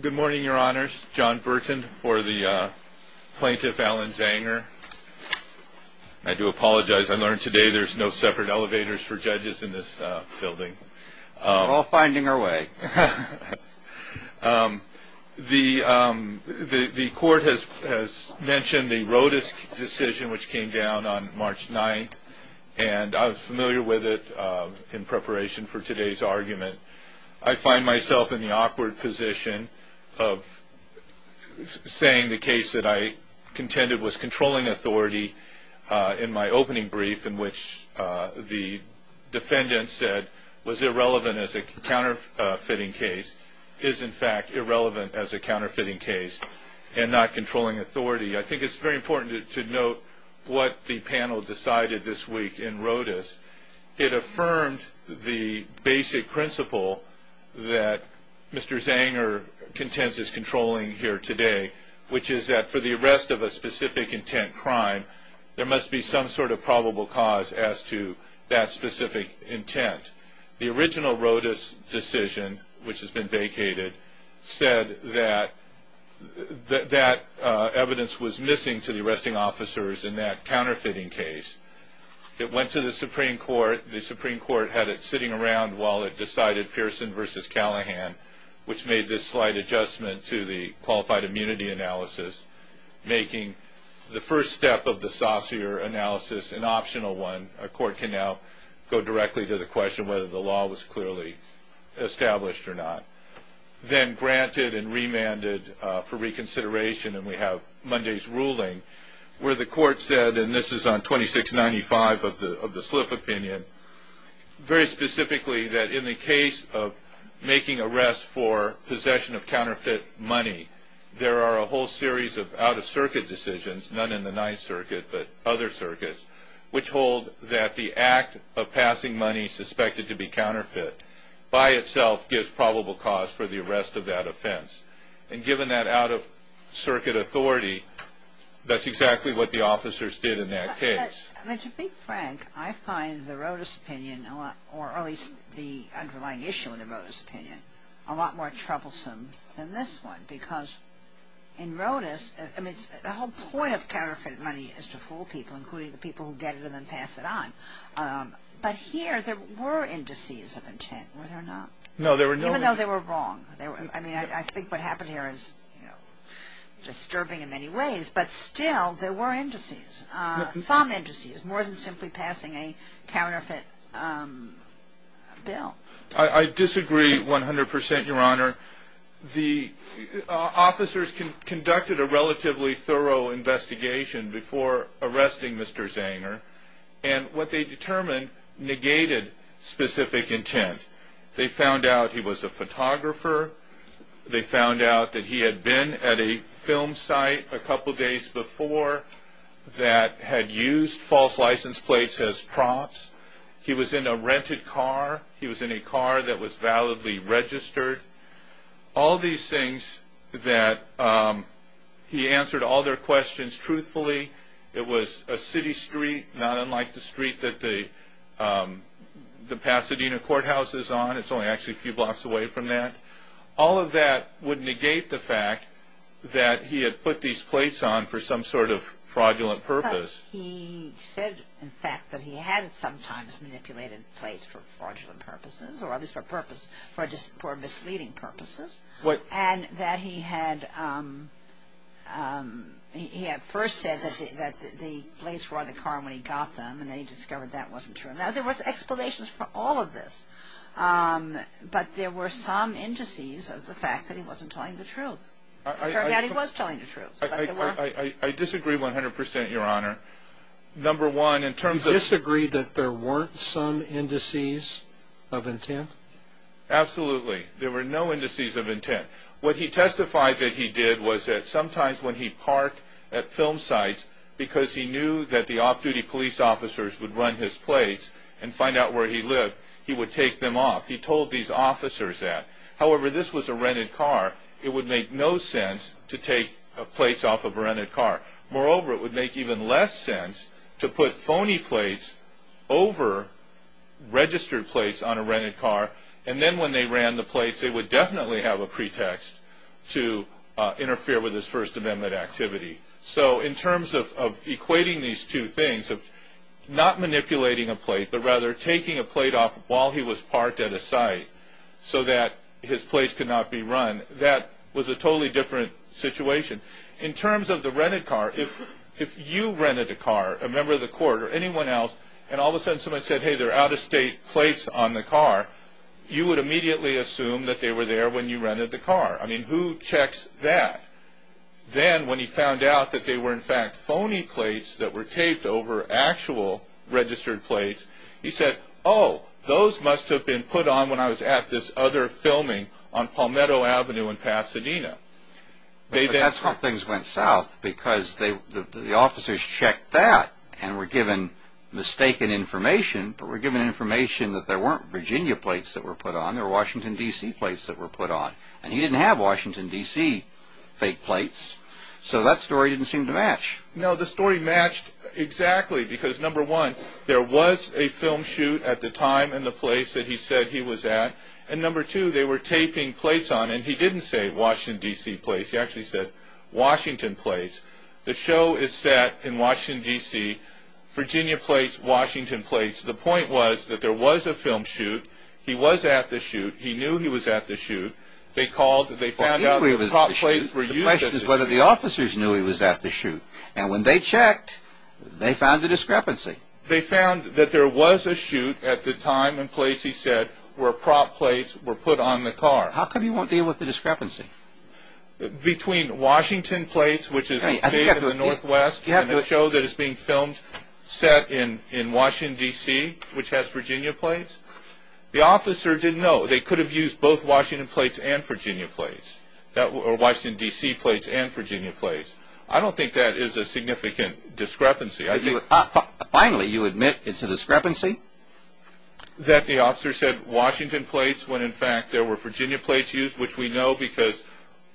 Good morning, your honors. John Burton for the plaintiff, Alan Zanger. I do apologize. I learned today there's no separate elevators for judges in this building. We're all finding our way. The court has mentioned the Rodas decision which came down on March 9th, and I was familiar with it in preparation for today's argument. I find myself in the awkward position of saying the case that I contended was controlling authority in my opening brief in which the defendant said was irrelevant as a counterfeiting case is in fact irrelevant as a counterfeiting case and not controlling authority. I think it's very important to note what the panel decided this week in Rodas. It affirmed the basic principle that Mr. Zanger contends is controlling here today, which is that for the arrest of a specific intent crime, there must be some sort of probable cause as to that specific intent. The original Rodas decision, which has been vacated, said that that evidence was in the Supreme Court. The Supreme Court had it sitting around while it decided Pearson v. Callahan, which made this slight adjustment to the qualified immunity analysis, making the first step of the saucier analysis an optional one. A court can now go directly to the question whether the law was clearly established or not. Then granted and remanded for reconsideration, and we have Monday's slip opinion, very specifically that in the case of making arrests for possession of counterfeit money, there are a whole series of out-of-circuit decisions, none in the Ninth Circuit, but other circuits, which hold that the act of passing money suspected to be counterfeit by itself gives probable cause for the arrest of that offense. And given that out-of-circuit authority, that's exactly what the officers did in that case. I mean, to be frank, I find the Rodas opinion, or at least the underlying issue in the Rodas opinion, a lot more troublesome than this one, because in Rodas, I mean, the whole point of counterfeit money is to fool people, including the people who get it and then pass it on. But here, there were indices of intent, were there not? No, there were no indices. Even though they were wrong. I mean, I think what happened here is, you know, disturbing in many ways, but still, there were indices, some indices, more than simply passing a counterfeit bill. I disagree 100 percent, Your Honor. The officers conducted a relatively thorough investigation before arresting Mr. Zanger, and what they determined negated specific intent. They found out he was a photographer. They found out that he had been at a film site a couple days before that had used false license plates as prompts. He was in a rented car. He was in a car that was validly registered. All these things that he answered all their questions truthfully. It was a city street, not unlike the street that the Pasadena Courthouse is on. It's only actually a few blocks away from that. All of that would negate the fact that he had put these plates on for some sort of fraudulent purpose. But he said, in fact, that he had sometimes manipulated plates for fraudulent purposes, or at least for misleading purposes, and that he had first said that the plates were on the car when he got them, and then he discovered that wasn't true. Now, there was explanations for all of this, but there were some indices of the fact that he wasn't telling the truth. It turned out he was telling the truth. I disagree 100 percent, Your Honor. Number one, in terms of... of intent? Absolutely. There were no indices of intent. What he testified that he did was that sometimes when he parked at film sites, because he knew that the off-duty police officers would run his plates and find out where he lived, he would take them off. He told these officers that. However, this was a rented car. It would make no sense to take plates off of a rented car. Moreover, it would make even less sense to put phony plates over registered plates on a rented car, and then when they ran the plates, they would definitely have a pretext to interfere with his First Amendment activity. So in terms of equating these two things, of not manipulating a plate, but rather taking a plate off while he was parked at a site so that his plates could not be run, that was a totally different situation. In terms of the rented car, if you rented a car, a member of the court, or anyone else, and all of a sudden someone said, hey, they're out-of-state plates on the car, you would immediately assume that they were there when you rented the car. I mean, who checks that? Then when he found out that they were in fact phony plates that were taped over actual registered plates, he said, oh, those must have been put on when I was at other filming on Palmetto Avenue in Pasadena. But that's how things went south, because the officers checked that and were given mistaken information, but were given information that there weren't Virginia plates that were put on, there were Washington, D.C. plates that were put on. And he didn't have Washington, D.C. fake plates, so that story didn't seem to match. No, the story matched exactly, because number one, there was a film shoot at the time and the place that he said he was at, and number two, they were taping plates on, and he didn't say Washington, D.C. plates, he actually said Washington plates. The show is set in Washington, D.C., Virginia plates, Washington plates. The point was that there was a film shoot, he was at the shoot, he knew he was at the shoot, they called, they found out the top plates were used. The question is whether the officers knew he was at the shoot, and when they checked, they found a discrepancy. They found that there was a shoot at the time and place he said where prop plates were put on the car. How come you won't deal with the discrepancy? Between Washington plates, which is taped in the northwest, and the show that is being filmed, set in Washington, D.C., which has Virginia plates, the officer didn't know. They could have used both Washington plates and Virginia plates, or Washington, D.C. plates and Virginia plates. I don't think that is a significant discrepancy. Finally, you admit it's a discrepancy? That the officer said Washington plates when, in fact, there were Virginia plates used, which we know because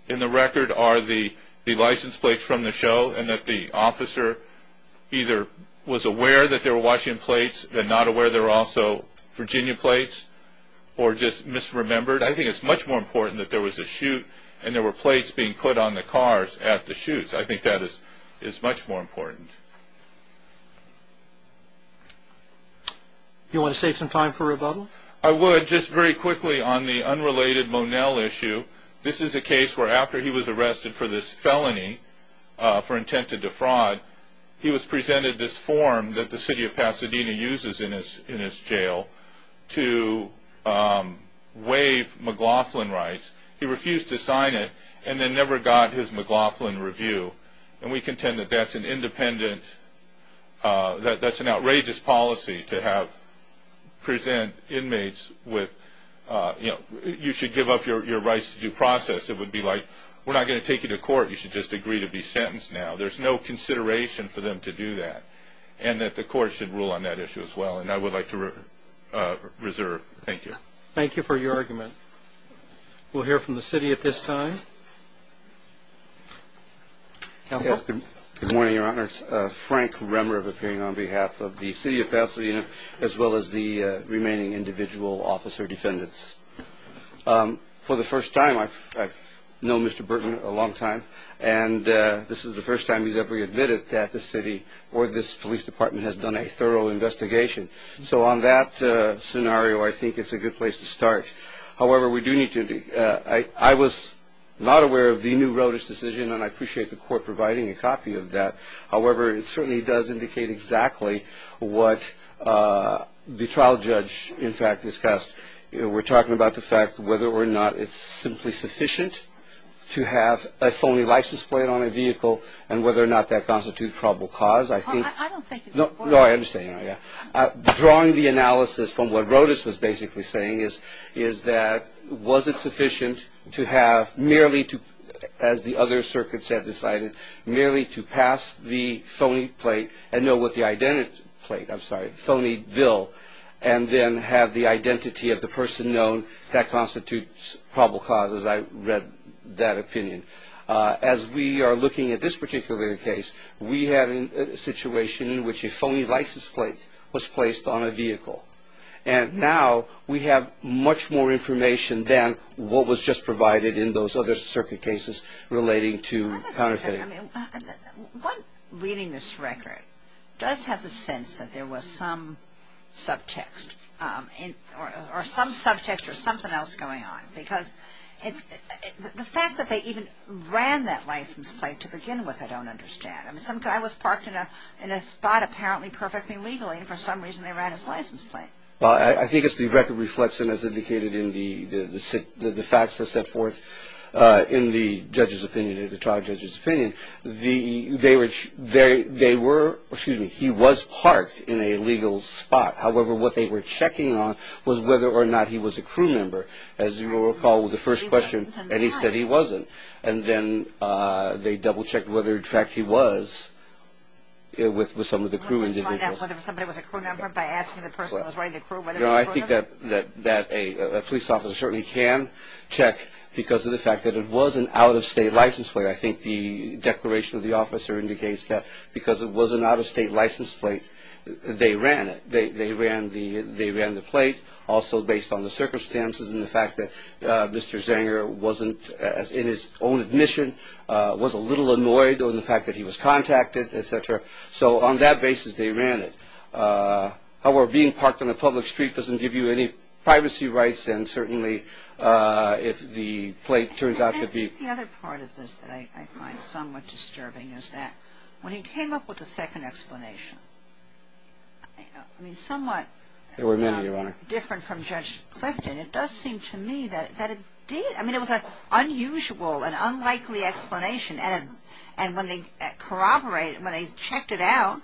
in the record are the license plates from the show, and that the officer either was aware that they were Washington plates and not aware they were also Virginia plates, or just misremembered. I think it's much more important that there was a shoot and there were plates being put on the cars at the shoot. I think that is much more important. You want to save some time for rebuttal? I would. Just very quickly on the unrelated Monell issue, this is a case where after he was arrested for this felony, for intent to defraud, he was presented this form that the city of Pasadena uses in his jail to waive McLaughlin rights. He refused to sign it and then never got his McLaughlin review, and we contend that that's an independent, that's an outrageous policy to present inmates with, you know, you should give up your rights to due process. It would be like, we're not going to take you to court. You should just agree to be sentenced now. There's no consideration for them to do that, and that the court should rule on that issue as well, and I would like to reserve. Thank you. Thank you for your argument. We'll hear from the city at this time. Good morning, your honor. Frank Remmer of appearing on behalf of the city of Pasadena, as well as the remaining individual officer defendants. For the first time, I've known Mr. Burton a long time, and this is the first time he's ever admitted that the city or this police department has done a thorough investigation. So on that scenario, I think it's a good place to start. However, we do need to, I was not aware of the new roadage decision, and I appreciate the court providing a copy of that. However, it certainly does indicate exactly what the trial judge, in fact, discussed. You know, we're talking about the fact whether or not it's simply sufficient to have a phony license plate on a vehicle, and whether or not that constitutes probable cause. I think... I don't think... No, I understand. Drawing the analysis from what Rodas was basically saying is, is that was it sufficient to have merely to, as the other circuits have decided, merely to pass the phony plate and know what the identity plate, I'm sorry, phony bill, and then have the identity of the person known, that constitutes probable cause, as I read that opinion. As we are looking at this particular case, we have a situation in which a phony license plate was placed on a vehicle, and now we have much more information than what was just provided in those other circuit cases relating to counterfeiting. What reading this record does have the sense that there was some subtext, or some subject or something else going on, because it's... The fact that they even ran that license plate to begin with, I don't understand. I mean, some guy was parked in a spot apparently perfectly legally, and for some reason they ran his license plate. Well, I think it's the record reflects, and as indicated in the facts that set forth in the judge's opinion, in the trial judge's opinion, the... They were, excuse me, he was parked in a legal spot. However, what they were checking on was whether or not he was a crew member. As you will recall with the first question, and he said he wasn't, and then they double-checked whether in fact he was with some of the crew individuals. You want to find out whether somebody was a crew member by asking the person who was running the crew whether he was a crew member? No, I think that a police officer certainly can check because of the fact that it was an out-of-state license plate. I think the declaration of the officer indicates that because it was an out-of-state license plate, they ran it. They ran the plate also based on the circumstances and the fact that Mr. Zanger wasn't in his own admission, was a little annoyed with the fact that he was contacted, etc. So on that basis, they ran it. However, being parked on a public street doesn't give you any privacy rights, and certainly if the plate turns out to be... I think the other part of this that I find somewhat disturbing is that when he came up with the second explanation, I mean, somewhat different from Judge Clifton, it does seem to me that it did. I mean, it was an unusual and unlikely explanation, and when they corroborated, when they checked it out,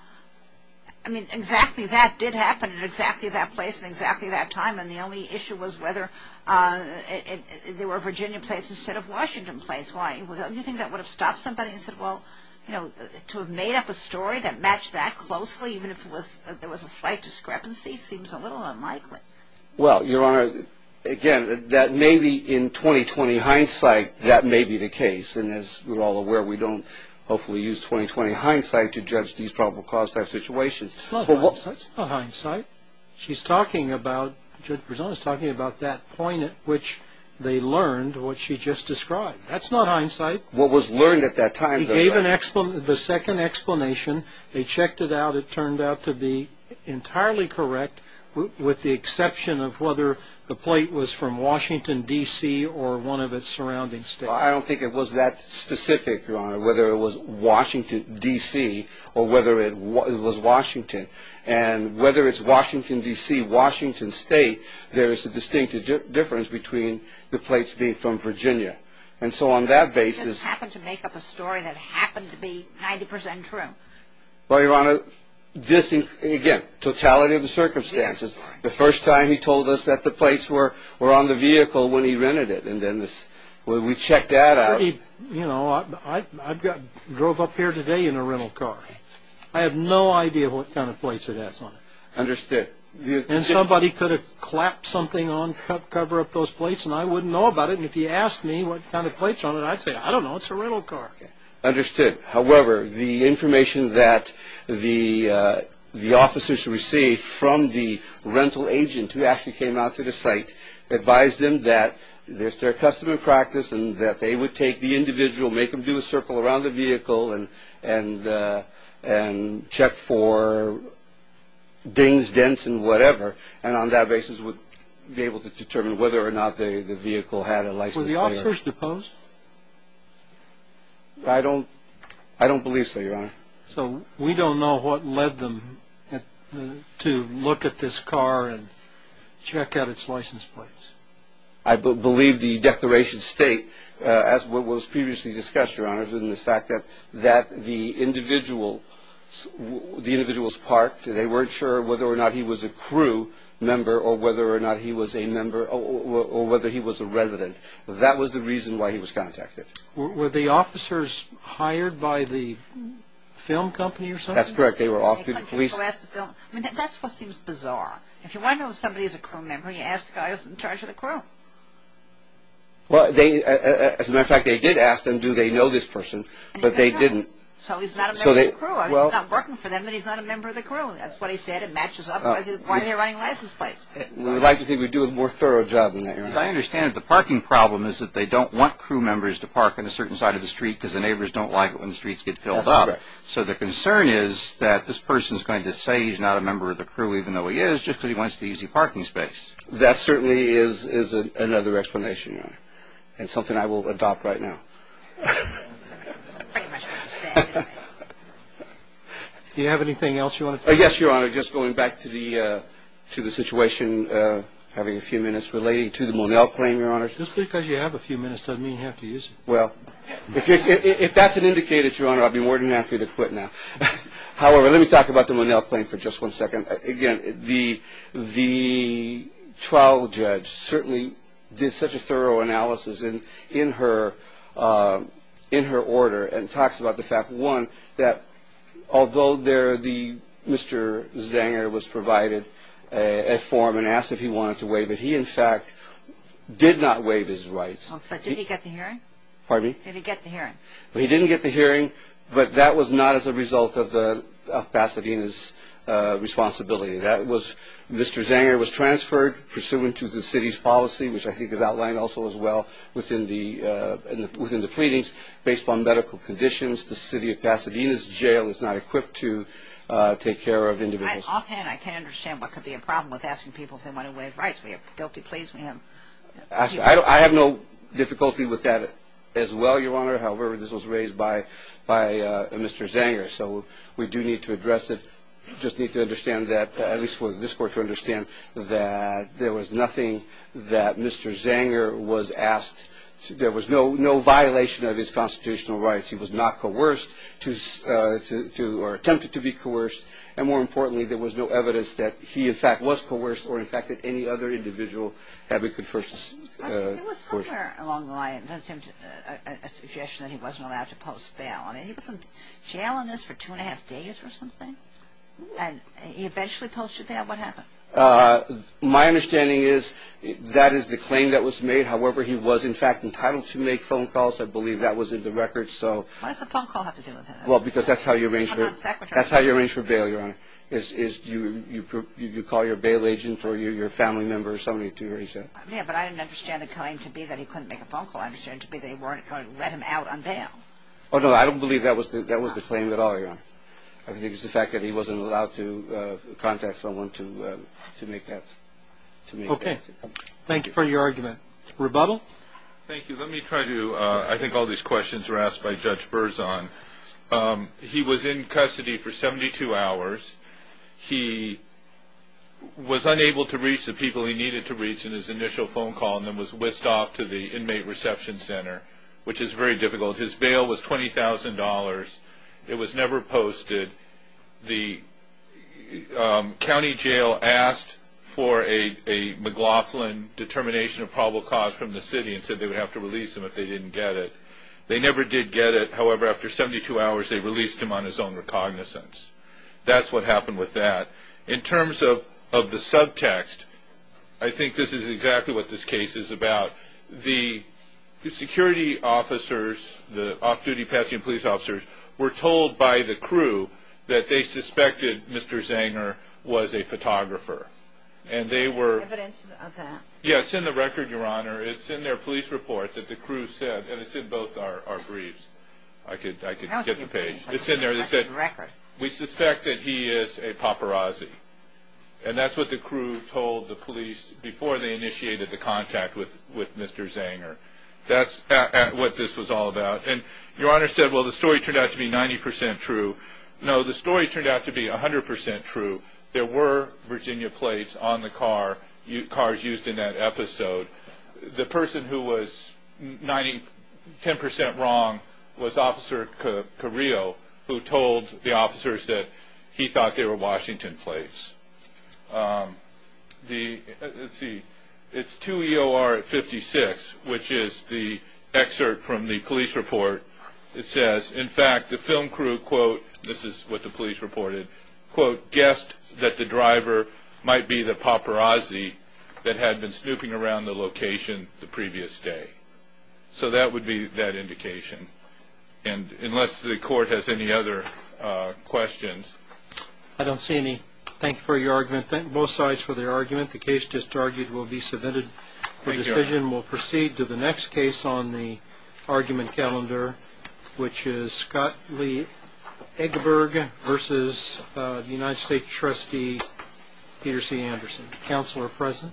I mean, exactly that did happen at exactly that place and exactly that time, and the only issue was whether there were Virginia plates instead of Washington plates. Why? Do you think that would have stopped somebody and said, well, you know, to have made up a story that matched that closely, even if there was a slight discrepancy, seems a little unlikely. Well, Your Honor, again, that may be in 2020 hindsight, that may be the case, and as we're all aware, we don't hopefully use 2020 hindsight to judge these probable cause type situations. That's not hindsight. She's talking about, Judge Brizola's talking about that point at which they learned what she just described. That's not hindsight. What was learned at that time, though. He gave the second explanation, they checked it out, it turned out to be entirely correct, with the exception of whether the plate was from Washington, D.C. or one of its surrounding states. I don't think it was that specific, Your Honor, whether it was Washington, D.C. or whether it was Washington. And whether it's Washington, D.C., Washington State, there is a distinctive difference between the plates being from Virginia. And so on that basis. Happened to make up a story that happened to be 90 percent true. Well, Your Honor, this, again, totality of the circumstances. The first time he told us that the plates were were on the vehicle when he rented it. And then we checked that out. You know, I drove up here today in a rental car. I have no idea what kind of plates it has on it. Understood. And somebody could have clapped something on cover up those plates and I wouldn't know about it. And if you asked me what kind of plates on it, I'd say, I don't know. It's a rental car. Understood. However, the information that the the officers received from the rental agent who actually came out to the site, advised them that there's their custom and practice and that they would take the individual, make them do a circle around the vehicle and and and check for dings, dents and whatever. And on that basis would be able to determine whether or not the vehicle had a license plate. Were the officers deposed? So we don't know what led them to look at this car and check out its license plates. I believe the declaration state, as what was previously discussed, your honor, in the fact that that the individual, the individuals parked, they weren't sure whether or not he was a crew member or whether or not he was a member or whether he was a resident. That was the reason why he was contacted. Were the officers hired by the film company or something? That's correct. They were off to the police. That's what seems bizarre. If you want to know if somebody is a crew member, you ask the guy who's in charge of the crew. Well, they, as a matter of fact, they did ask them, do they know this person? But they didn't. So he's not a member of the crew. I mean, he's not working for them, but he's not a member of the crew. That's what he said. It matches up. Why are they running license plates? We'd like to think we'd do a more thorough job in that area. I understand that the parking problem is that they don't want crew members to park on a certain side of the street because the neighbors don't like it when the streets get filled up. So the concern is that this person is going to say he's not a member of the crew, even though he is, just because he wants the easy parking space. That certainly is another explanation, Your Honor, and something I will adopt right now. Do you have anything else you want to say? Yes, Your Honor. Just going back to the situation, having a few minutes relating to the Monell claim, Your Honor. Just because you have a few minutes doesn't mean you have to use it. Well, if that's an indicator, Your Honor, I'd be more than happy to quit now. However, let me talk about the Monell claim for just one second. Again, the trial judge certainly did such a thorough analysis in her order and talks about the fact, one, that although Mr. Zanger was provided a form and asked if he wanted to waive it, he, in fact, did not waive his rights. But did he get the hearing? Pardon me? Did he get the hearing? He didn't get the hearing, but that was not as a result of Pasadena's responsibility. That was Mr. Zanger was transferred pursuant to the city's policy, which I think is outlined also as well within the pleadings. Based on medical conditions, the city of Pasadena's jail is not equipped to take care of individuals. Offhand, I can't understand what could be a problem with asking people if they want to waive rights. We have guilty pleas. We have... Actually, I have no difficulty with that as well, Your Honor. However, this was raised by Mr. Zanger. So we do need to address it. Just need to understand that, at least for this Court to understand that there was nothing that Mr. Zanger was asked to... There was no violation of his constitutional rights. He was not coerced to... Or attempted to be coerced. And more importantly, there was no evidence that he, in fact, was coerced or, in fact, that any other individual had been coerced. I mean, there was somewhere along the line a suggestion that he wasn't allowed to post bail. I mean, he was in jail on this for two and a half days or something. And he eventually posted bail. What happened? My understanding is that is the claim that was made. However, he was, in fact, entitled to make phone calls. I believe that was in the record. So... Why does the phone call have to do with it? Well, because that's how you arrange for... That's how you arrange for bail, Your Honor. Is you call your bail agent or your family member or somebody to arrange that. Yeah, but I don't understand the claim to be that he couldn't make a phone call. I understand to be they weren't going to let him out on bail. Oh, no, I don't believe that was the claim at all, Your Honor. I think it's the fact that he wasn't allowed to contact someone to make that... Okay. Thank you for your argument. Rebuttal? Thank you. Let me try to... I think all these questions were asked by Judge Berzon. He was in custody for 72 hours. He was unable to reach the people he needed to reach in his initial phone call and then was whisked off to the inmate reception center, which is very difficult. His bail was $20,000. It was never posted. The county jail asked for a McLaughlin determination of probable cause from the city and said they would have to release him if they didn't get it. They never did get it. However, after 72 hours, they released him on his own recognizance. That's what happened with that. In terms of the subtext, I think this is exactly what this case is about. The security officers, the off-duty Pasadena police officers, were told by the crew that they suspected Mr. Zanger was a photographer and they were... Do you have evidence of that? Yes, it's in the record, Your Honor. It's in their police report that the crew said, and it's in both our briefs. I could get the page. It's in there. We suspect that he is a paparazzi and that's what the crew told the police before they initiated the contact with Mr. Zanger. That's what this was all about. And Your Honor said, well, the story turned out to be 90% true. No, the story turned out to be 100% true. There were Virginia plates on the cars used in that episode. The person who was 10% wrong was Officer Carrillo, who told the officers that he thought they were Washington plates. Let's see, it's 2 EOR 56, which is the excerpt from the police report. It says, in fact, the film crew, quote, this is what the police reported, quote, guessed that the driver might be the paparazzi that had been snooping around the location the previous day. So that would be that indication. And unless the court has any other questions. I don't see any. Thank you, Your Honor. Both sides for their argument. The case just argued will be submitted for decision. We'll proceed to the next case on the argument calendar, which is Scott Lee Eggeberg versus the United States Trustee Peter C. Anderson. Counsel are present.